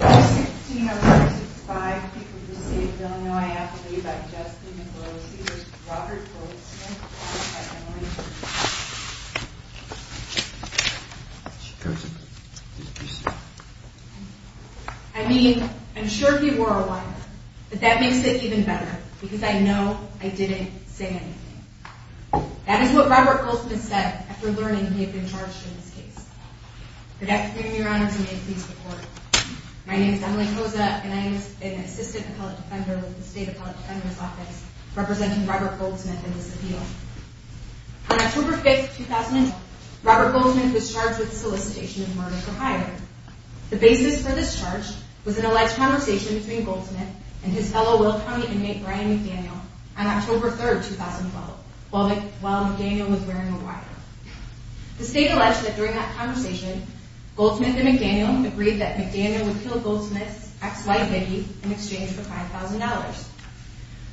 16 or 65 people who say, I don't know, I have to leave. I just Robert I mean, I'm sure he wore a wife, but that makes it even better because I know I didn't say anything. That is what Robert Goldsmith said after learning he had been charged in this case. Your honor to me, please report. My name is Emily Rosa and I was an assistant appellate defender with the State Appellate Defender's Office representing Robert Goldsmith in this appeal. On October 5th, 2000, Robert Goldsmith was charged with solicitation of murder for hiring. The basis for this charge was an alleged conversation between Goldsmith and his fellow Will County inmate, Brian McDaniel on October 3rd, 2012, while McDaniel was wearing a wire. The state alleged that during that conversation, Goldsmith and McDaniel agreed that McDaniel would kill Goldsmith's ex-wife, Becky, in exchange for $5,000.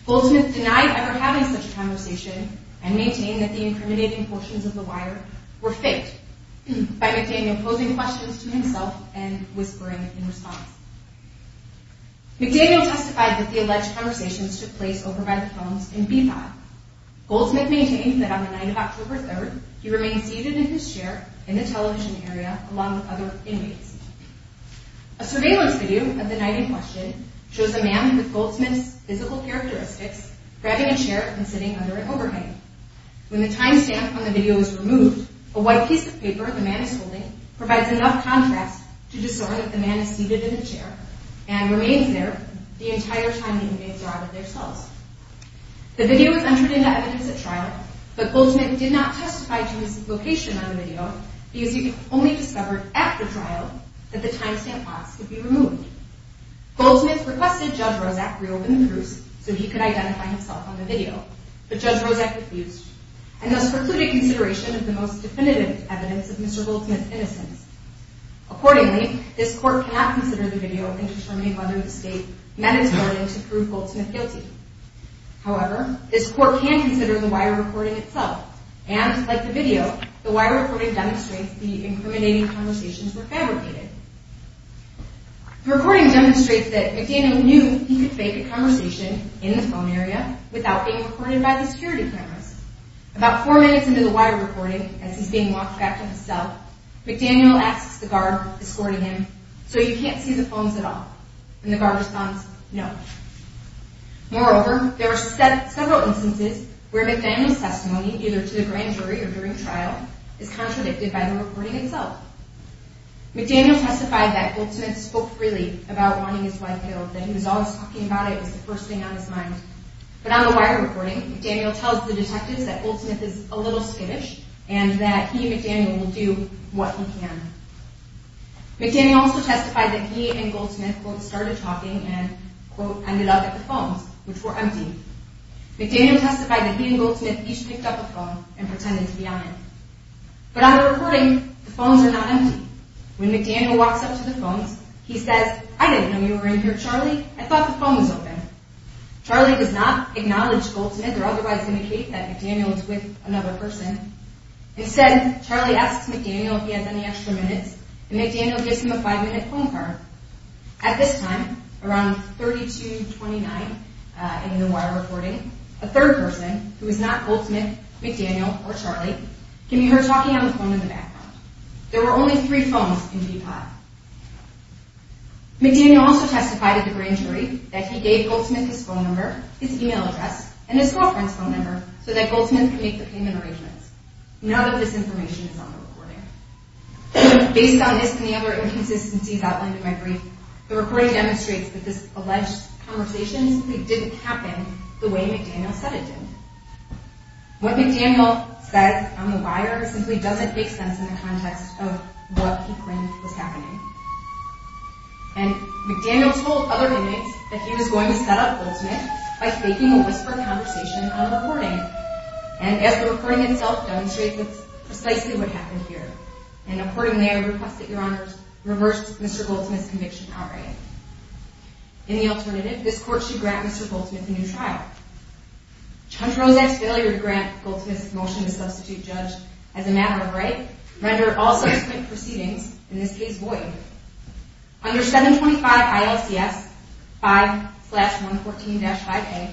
Goldsmith denied ever having such a conversation and maintained that the incriminating portions of the wire were faked by McDaniel posing questions to himself and whispering in response. McDaniel testified that the alleged conversations took place over by the October 3rd, he remained seated in his chair in the television area along with other inmates. A surveillance video of the night in question shows a man with Goldsmith's physical characteristics grabbing a chair and sitting under an overhang. When the timestamp on the video is removed, a white piece of paper the man is holding provides enough contrast to discern that the man is seated in the chair and remains there the entire time the inmates are out of their cells. The video was entered into evidence at trial, but Goldsmith did not testify to his location on the video because he only discovered after trial that the timestamp box could be removed. Goldsmith requested Judge Rozak reopen the case so he could identify himself on the video, but Judge Rozak refused and thus precluded consideration of the most definitive evidence of Mr. Goldsmith's innocence. Accordingly, this court cannot consider the video and determine whether the state met its burden to prove Goldsmith guilty. However, this court can consider the wire recording itself, and, like the video, the wire recording demonstrates the incriminating conversations were fabricated. The recording demonstrates that McDaniel knew he could fake a conversation in the phone area without being recorded by the security cameras. About four minutes into the wire recording, as he's being walked back to his cell, McDaniel asks the guard escorting him, So you can't see the phones at all? And the guard responds, Moreover, there are several instances where McDaniel's testimony, either to the grand jury or during trial, is contradicted by the recording itself. McDaniel testified that Goldsmith spoke freely about wanting his wife killed, that he was always talking about it as the first thing on his mind. But on the wire recording, McDaniel tells the detectives that Goldsmith is a little skittish and that he and McDaniel will do what he can. McDaniel also testified that he and Goldsmith both started talking and, quote, ended up at the phones, which were empty. McDaniel testified that he and Goldsmith each picked up a phone and pretended to be on it. But on the recording, the phones are not empty. When McDaniel walks up to the phones, he says, I didn't know you were in here, Charlie. I thought the phone was open. Charlie does not acknowledge Goldsmith or otherwise indicate that McDaniel is with another person. Instead, Charlie asks McDaniel if he has any extra minutes, and McDaniel gives him a five-minute phone call. At this time, around 3229 in the wire recording, a third person, who is not Goldsmith, McDaniel, or Charlie, can be heard talking on the phone in the background. There were only three phones in D-Pod. McDaniel also testified at the grand jury that he gave Goldsmith his phone number, his email address, and his girlfriend's phone number so that Goldsmith could make the payment arrangements. None of this information is on the recording. Based on this and the other inconsistencies outlined in my brief, the recording demonstrates that this alleged conversation simply didn't happen the way McDaniel said it did. What McDaniel says on the wire simply doesn't make sense in the context of what he claimed was happening. And McDaniel told other inmates that he was going to set up Goldsmith by faking a whispered conversation on the recording. And as the recording itself demonstrates, it's precisely what happened here. And accordingly, I request that your honors reverse Mr. Goldsmith's conviction outright. In the alternative, this court should grant Mr. Goldsmith a new trial. Judge Rozette's failure to grant Goldsmith's motion to substitute judge as a matter of right rendered all subsequent proceedings, in this case void. Under 725 ILCS 5-114-5A,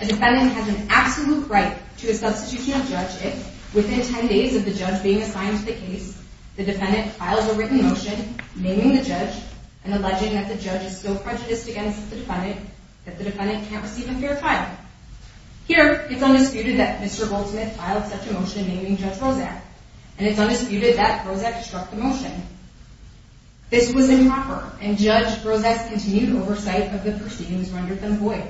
a defendant has an absolute right to a substitution of judge if, within 10 days of the judge being assigned to the case, the defendant files a written motion naming the judge and alleging that the judge is still prejudiced against the defendant, that the defendant can't receive a fair trial. Here, it's undisputed that Mr. Goldsmith filed such a motion naming Judge Rozette, and it's undisputed that Rozette struck the motion. This was improper, and Judge Rozette's continued oversight of the proceedings rendered them void.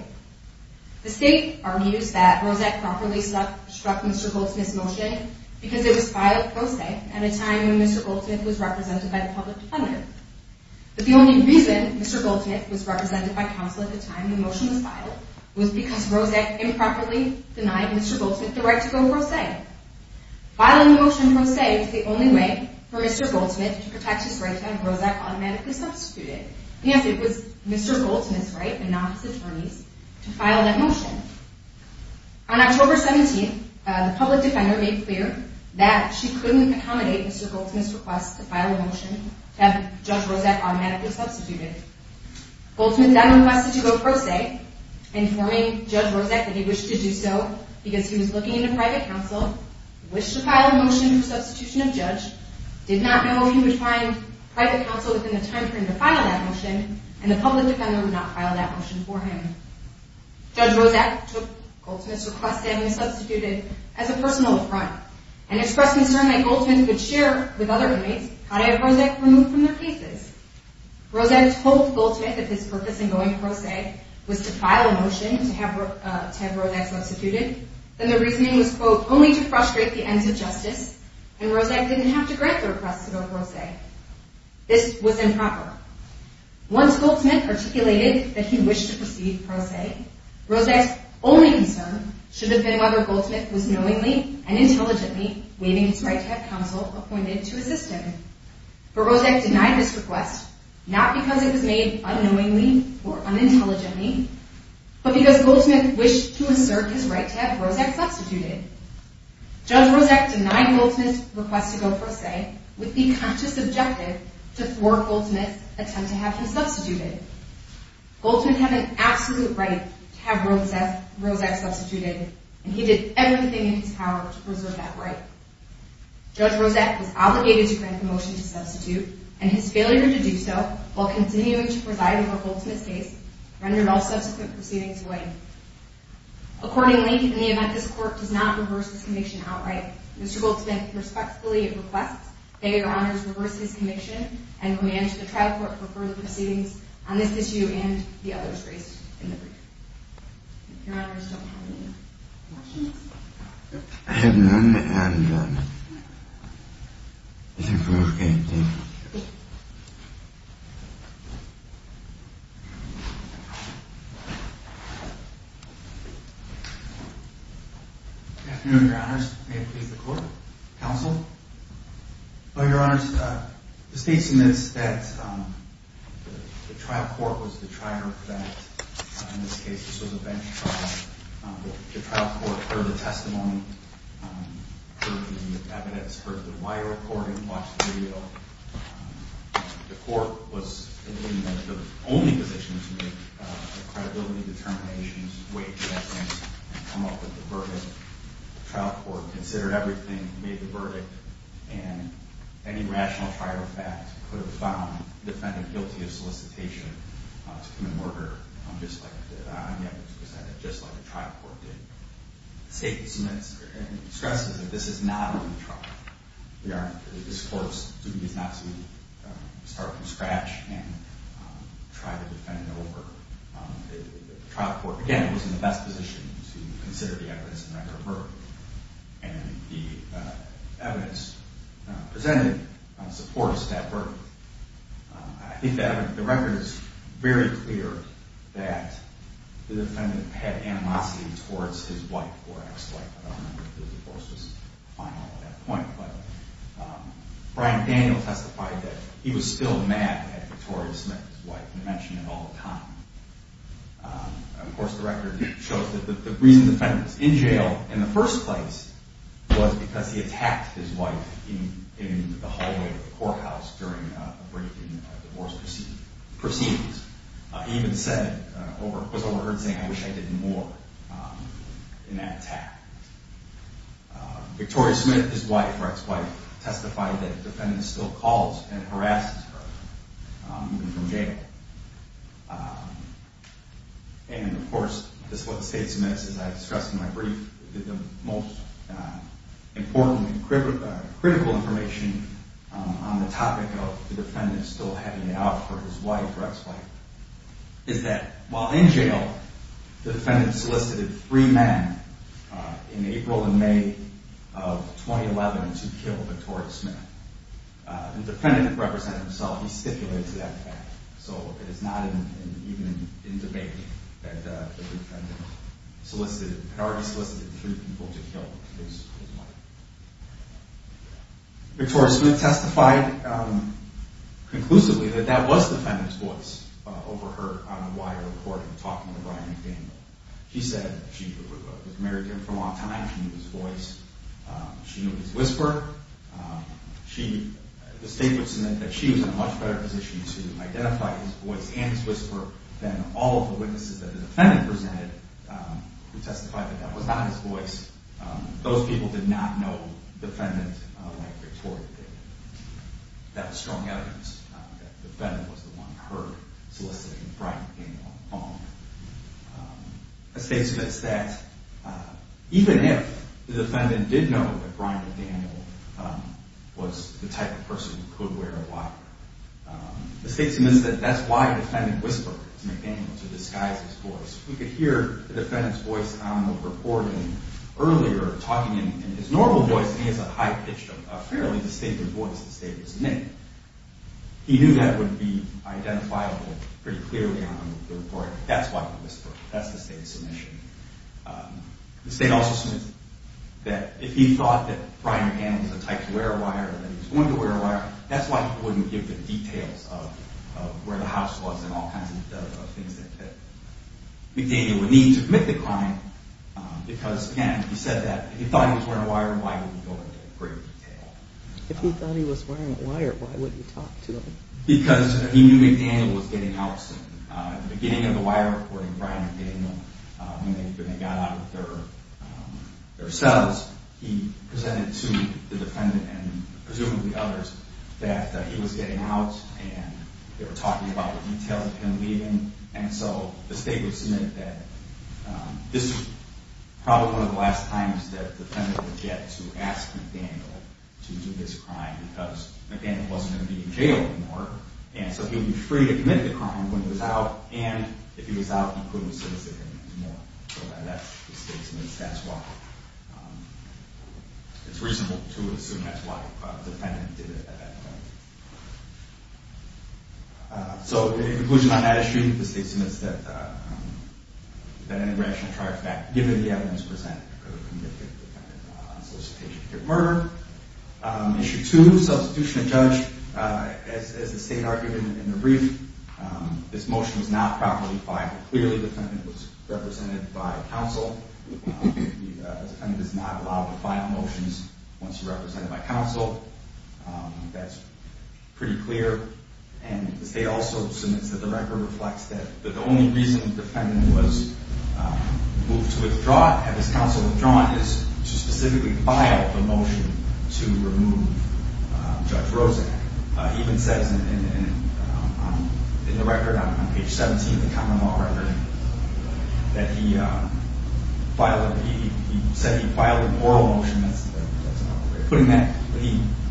The state argues that Rozette properly struck Mr. Goldsmith's motion because it was filed pro se at a time when Mr. Goldsmith was represented by the public defender. But the only reason Mr. Goldsmith was represented by counsel at the time the motion was filed was because Rozette improperly denied Mr. Goldsmith the right to go pro se. Filing the motion pro se was the only way for Mr. Goldsmith to protect his right to have Rozette automatically substituted. Yes, it was Mr. Goldsmith's right, and not his attorney's, to file that motion. On October 17th, the public defender made clear that she couldn't accommodate Mr. Goldsmith's request to file a motion to have Judge Rozette automatically substituted. Goldsmith then requested to go pro se, informing Judge Rozette that he wished to do so because he was looking into private counsel, wished to private counsel within the time frame to file that motion, and the public defender would not file that motion for him. Judge Rozette took Goldsmith's request to have him substituted as a personal affront, and expressed concern that Goldsmith would share with other inmates how to have Rozette removed from their cases. Rozette told Goldsmith that his purpose in going pro se was to file a motion to have Rozette substituted. Then the reasoning was, quote, only to frustrate the ends of justice, and Rozette didn't have to grant the request to go pro se. This was improper. Once Goldsmith articulated that he wished to proceed pro se, Rozette's only concern should have been whether Goldsmith was knowingly and intelligently waiving his right to have counsel appointed to assist him. But Rozette denied this request, not because it was made unknowingly or unintelligently, but because Goldsmith wished to assert his right to have Rozette substituted. Judge Rozette denied Goldsmith's request to go pro se with the conscious objective to thwart Goldsmith's attempt to have him substituted. Goldsmith had an absolute right to have Rozette substituted, and he did everything in his power to preserve that right. Judge Rozette was obligated to grant the motion to substitute, and his failure to do so while continuing to preside over Goldsmith's case rendered all subsequent proceedings void. Accordingly, in the event this Court does not reverse this conviction outright, Mr. Goldsmith respectfully requests that Your Honors reverse his conviction and command the trial court for further proceedings on this issue and the others raised in the brief. Your Honors, don't you have any more questions? I have none, and I think we're okay. Thank you. Good afternoon, Your Honors. May it please the Court? Counsel? Well, Your Honors, the State submits that the trial court was the trier that, in this case, this was a bench trial, the trial court heard the testimony, heard the evidence, heard the wire recording, watched the video, the court was in the only position to make the credibility determinations, weigh the evidence, and come up with the verdict. The trial court considered everything, made the verdict, and any rational trial fact could have found the defendant guilty of solicitation to commit murder, just like the trial court did. The State submits and stresses that this is not a new trial. Your Honors, this Court's duty is not to start from scratch and try to defend over. The trial court, again, was in the best position to consider the evidence and record of murder, and the evidence presented supports that verdict. I think the record is very clear that the defendant had animosity towards his wife or ex-wife. I don't remember if the divorce was final at that point, but Brian Daniel testified that he was still mad at Victoria Smith, his wife, and mentioned it all the time. Of course, the record shows that the reason the defendant was in jail in the first place was because he attacked his wife in the hallway of the courthouse during a briefing of divorce proceedings. He even said, or was overheard saying, I wish I did more in that attack. Victoria Smith, his wife, or ex-wife, testified that the defendant still calls and harasses her, even from jail. And, of course, this is what the State submits, as I discussed in my brief, the most important and critical information on the topic of the defendant still having it out for his wife or ex-wife, is that while in jail, the defendant solicited three men in April and May of 2011 to kill Victoria Smith. The defendant represented himself. He stipulated to that fact. So it is not even in debate that the defendant solicited, had already solicited three people to kill his wife. Victoria Smith testified conclusively that that was the defendant's voice over her on a wire recording talking to Brian McDaniel. She said she was married to him for a long time. She knew his voice. She knew his whisper. The State would submit that she was in a much better position to identify his voice and his whisper than all of the witnesses that the defendant presented who testified that that was not his voice. Those people did not know the defendant like Victoria did. That was strong evidence that the defendant was the one heard soliciting Brian McDaniel on the phone. The State submits that even if the defendant did know that Brian McDaniel was the type of person who could wear a wire, the State submits that that's why the defendant whispered to McDaniel to disguise his voice. We could hear the defendant's voice on the recording earlier talking in his normal voice and he has a high-pitched, a fairly distinctive voice, the State would submit. He knew that would be identifiable pretty clearly on the recording. That's why he whispered. That's the State's submission. The State also submits that if he thought that Brian McDaniel was the type to wear a wire, that he was going to wear a wire, that's why he wouldn't give the McDaniel a need to commit the crime because, again, he said that if he thought he was wearing a wire, why would he go into great detail? If he thought he was wearing a wire, why would he talk to him? Because he knew McDaniel was getting out soon. At the beginning of the wire recording, Brian McDaniel, when they got out of their cells, he presented to the defendant and presumably others that he was getting out and they were talking about the detail of him leaving and so the State would submit that this was probably one of the last times that the defendant would get to ask McDaniel to do this crime because McDaniel wasn't going to be in jail anymore and so he would be free to commit the crime when he was out and if he was out, he couldn't solicit him anymore. So that's what the State submits. That's why it's reasonable to assume that's why the defendant did it at that point. So in conclusion on that issue, the State submits that an irrational charge given the evidence presented could have convicted the defendant on solicitation to commit murder. Issue two, substitution of judge. As the State argued in the brief, this motion was not properly filed. Clearly the defendant was represented by counsel. The defendant is not allowed to file motions once he's represented by counsel. That's pretty clear. And the State also submits that the record reflects that the only reason the defendant was moved to withdraw, had his counsel withdrawn, is to specifically file the motion to remove Judge Rozak. He even says in the record on page 17 of the common law record that he said he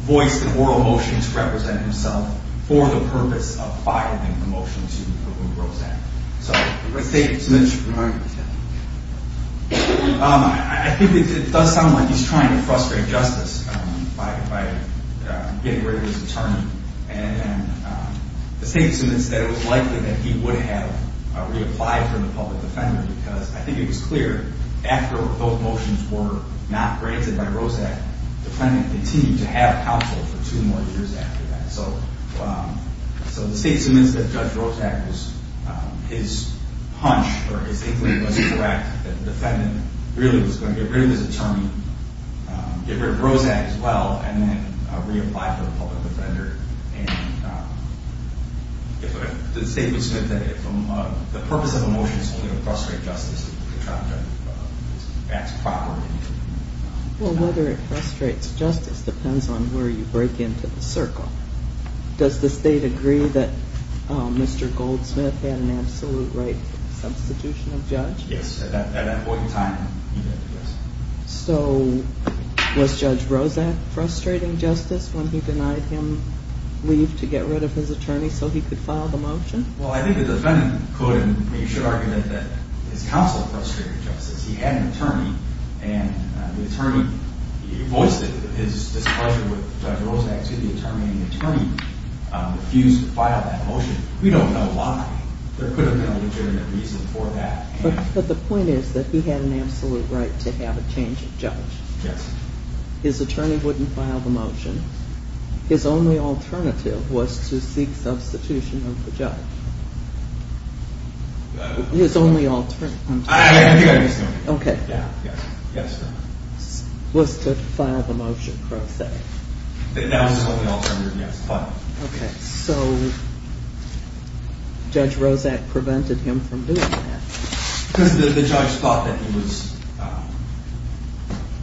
voiced an oral motion to represent himself for the purpose of filing the motion to remove Rozak. So the State submits. I think it does sound like he's trying to frustrate justice by getting rid of his attorney. And the State submits that it was likely that he would have reapplied for the public defender because I think it was clear after both motions were not granted by Rozak, the plaintiff continued to have counsel for two more years after that. So the State submits that Judge Rozak was, his hunch or his inkling was correct, that the defendant really was going to get rid of his attorney, get rid of Rozak as well, and then reapply for the public defender. And the State would submit that the purpose of a motion is only to frustrate justice. Well, whether it frustrates justice depends on where you break into the circle. Does the State agree that Mr. Goldsmith had an absolute right substitution of judge? Yes, at that point in time, yes. So was Judge Rozak frustrating justice when he denied him leave to get rid of his attorney so he could file the motion? Well, I think the defendant could, and you should argue that his counsel frustrated justice. He had an attorney, and the attorney, he voiced his displeasure with Judge Rozak to the attorney, and the attorney refused to file that motion. We don't know why. There could have been a legitimate reason for that. But the point is that he had an absolute right to have a change of judge. Yes. His attorney wouldn't file the motion. His only alternative was to seek substitution of the judge. His only alternative was to file the motion, per se. That was his only alternative, yes. Okay. So Judge Rozak prevented him from doing that? Because the judge thought that he was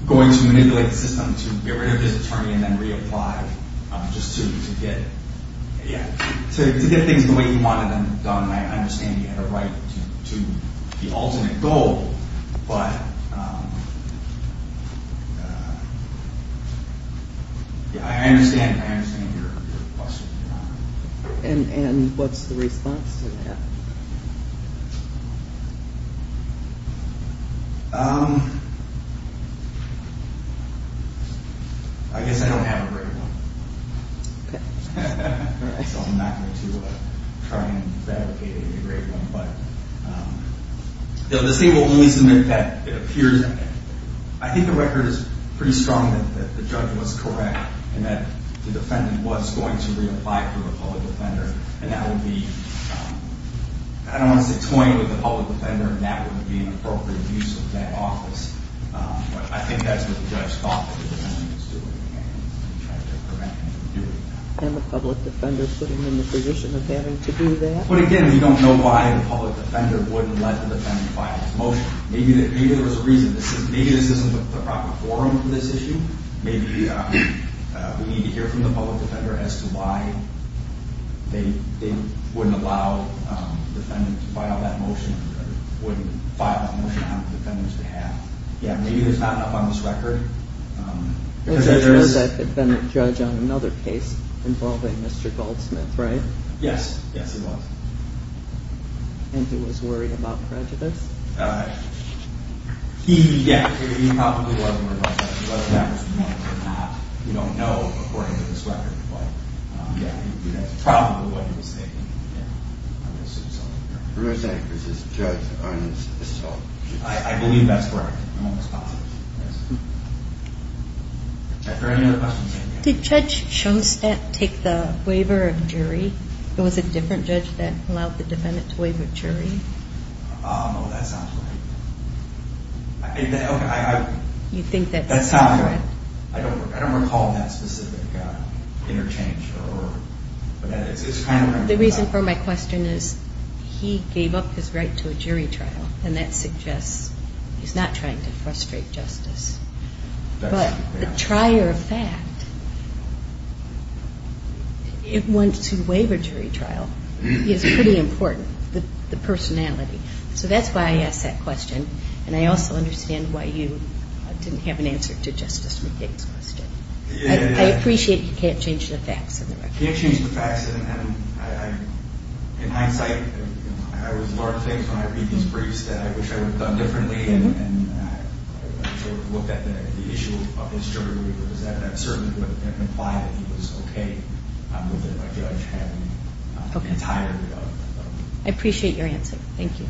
going to manipulate the system to get rid of his attorney and then reapply just to get things the way he wanted them done. I understand he had a right to the alternate goal, but I understand your question. And what's the response to that? I guess I don't have a great one. So I'm not going to try and fabricate a great one. But this thing will only submit that it appears. I think the record is pretty strong that the judge was correct and that the defendant was going to reapply for a public offender, and that would be, I don't want to say toying with the public offender, and that would be an appropriate use of that office. But I think that's what the judge thought that the defendant was doing, and he tried to prevent him from doing that. And the public defender putting him in the position of having to do that? But again, we don't know why the public defender wouldn't let the defendant file his motion. Maybe there was a reason. Maybe this isn't the proper forum for this issue. Maybe we need to hear from the public defender as to why they wouldn't allow the defendant to file that motion, or wouldn't file that motion on the defendant's behalf. Yeah, maybe there's not enough on this record. There was a defendant judge on another case involving Mr. Goldsmith, right? Yes, yes, he was. And he was worried about prejudice? He, yeah, he probably was worried about prejudice. Whether that was the motive or not, we don't know according to this record. But yeah, that's probably what he was thinking. I'm going to assume so. You're going to say it was this judge on Mr. Goldsmith? I believe that's correct. I'm almost positive, yes. Are there any other questions? Did Judge Schoenstatt take the waiver of jury? Or was it a different judge that allowed the defendant to waive a jury? Oh, that's not correct. You think that's incorrect? That's not correct. I don't recall that specific interchange. The reason for my question is he gave up his right to a jury trial, and that suggests he's not trying to frustrate justice. But the trier of fact, once you waive a jury trial, is pretty important, the personality. So that's why I asked that question, and I also understand why you didn't have an answer to Justice McCain's question. I appreciate he can't change the facts. He can't change the facts. In hindsight, I was learning things from my previous briefs that I wish I would have done differently, and I looked at the issue of his jury waiver. That certainly would imply that he was okay with a judge having an entire jury. I appreciate your answer. Thank you.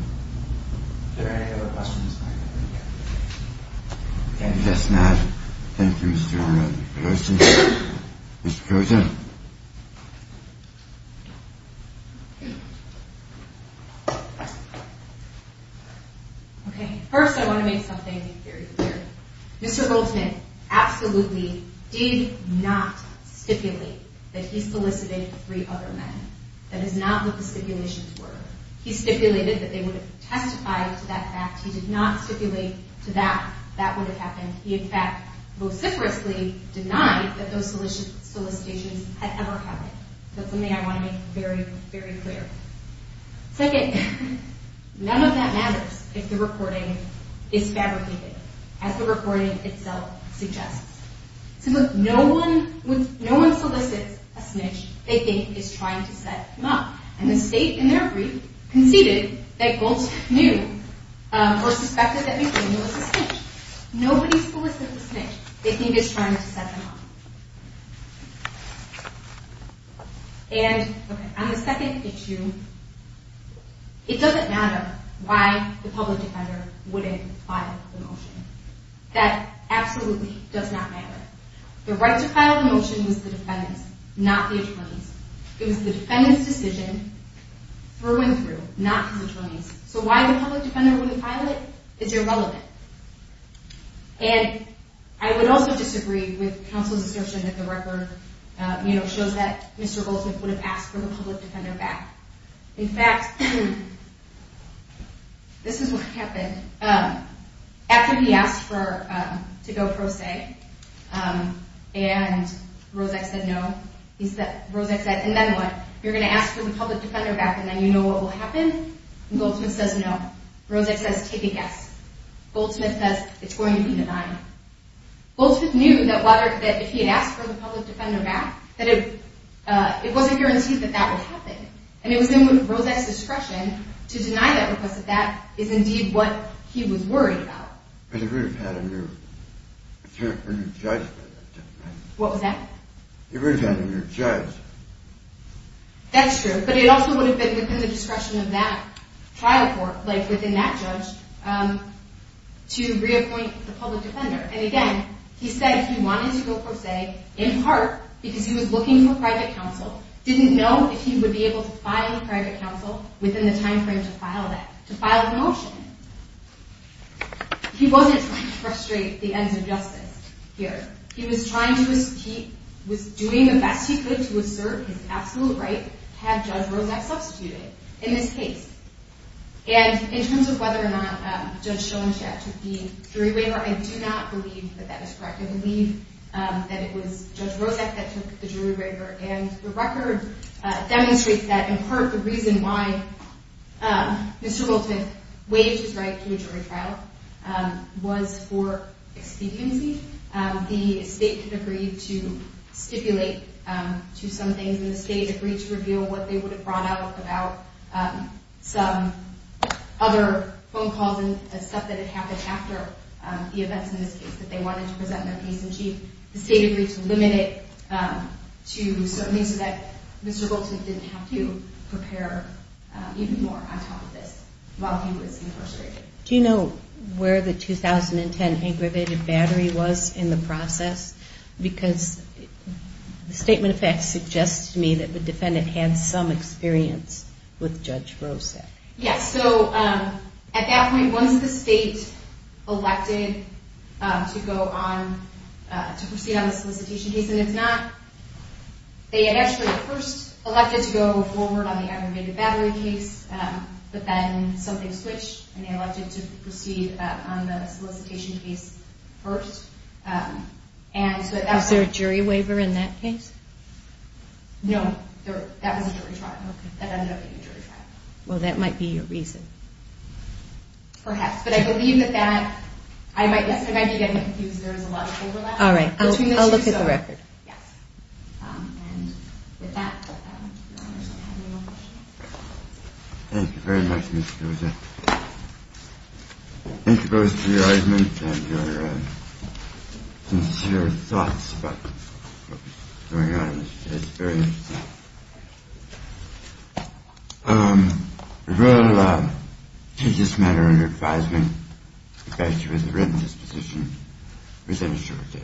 Are there any other questions? Yes, ma'am. Thank you, Mr. Rolton. Mr. Rolton. Okay. First, I want to make something very clear. Mr. Rolton absolutely did not stipulate that he solicited three other men. That is not what the stipulations were. He stipulated that they would testify to that fact. He did not stipulate to that that would have happened. He, in fact, vociferously denied that those solicitations had ever happened. That's something I want to make very, very clear. Second, none of that matters if the reporting is fabricated, as the reporting itself suggests. Since no one solicits a snitch they think is trying to set him up, and the state, in their brief, conceded that Goltz knew or suspected that McDaniel was a snitch. Nobody solicits a snitch they think is trying to set them up. And on the second issue, it doesn't matter why the public defender wouldn't file the motion. That absolutely does not matter. The right to file the motion was the defendant's, not the attorney's. It was the defendant's decision through and through, not his attorney's. So why the public defender wouldn't file it is irrelevant. And I would also disagree with counsel's assertion that the record, you know, shows that Mr. Goltz would have asked for the public defender back. In fact, this is what happened. After he asked to go pro se, and Roszak said no, he said, Roszak said, and then what? You're going to ask for the public defender back and then you know what will happen? And Goltz says no. Roszak says take a guess. Goltz says it's going to be denied. Goltz knew that if he had asked for the public defender back, that it wasn't guaranteed that that would happen. And it was then with Roszak's discretion to deny that, because that is indeed what he was worried about. But he would have had a new judge. What was that? He would have had a new judge. That's true, but it also would have been within the discretion of that trial court, like within that judge, to reacquaint the public defender. And again, he said he wanted to go pro se in part because he was looking for private counsel, didn't know if he would be able to find private counsel within the time frame to file the motion. He wasn't trying to frustrate the ends of justice here. He was doing the best he could to assert his absolute right, have Judge Roszak substitute it in this case. And in terms of whether or not Judge Schoenstadt took the jury waiver, I do not believe that that is correct. I believe that it was Judge Roszak that took the jury waiver. And the record demonstrates that in part the reason why Mr. Goldsmith waived his right to a jury trial was for expediency. The state had agreed to stipulate to some things, and the state agreed to reveal what they would have brought out about some other phone calls and stuff that had happened after the events in this case that they wanted to present their case in chief. The state agreed to limit it to certain things so that Mr. Goldsmith didn't have to prepare even more on top of this while he was incarcerated. Do you know where the 2010 aggravated battery was in the process? Because the statement of facts suggests to me that the defendant had some experience with Judge Roszak. Yes, so at that point, once the state elected to proceed on the solicitation case, and if not, they had actually first elected to go forward on the aggravated battery case, but then something switched, and they elected to proceed on the solicitation case first. Was there a jury waiver in that case? No, that was a jury trial. Well, that might be your reason. Perhaps, but I believe that that, I might be getting confused. There was a lot of overlap. All right, I'll look at the record. Yes, and with that, I don't know if you have any more questions. Thank you very much, Ms. Goldsmith. Thank you both for your arguments and your sincere thoughts about what was going on in this case. It was very interesting. We're going to take this matter under advisement. The fact that you have written this petition is an assurance.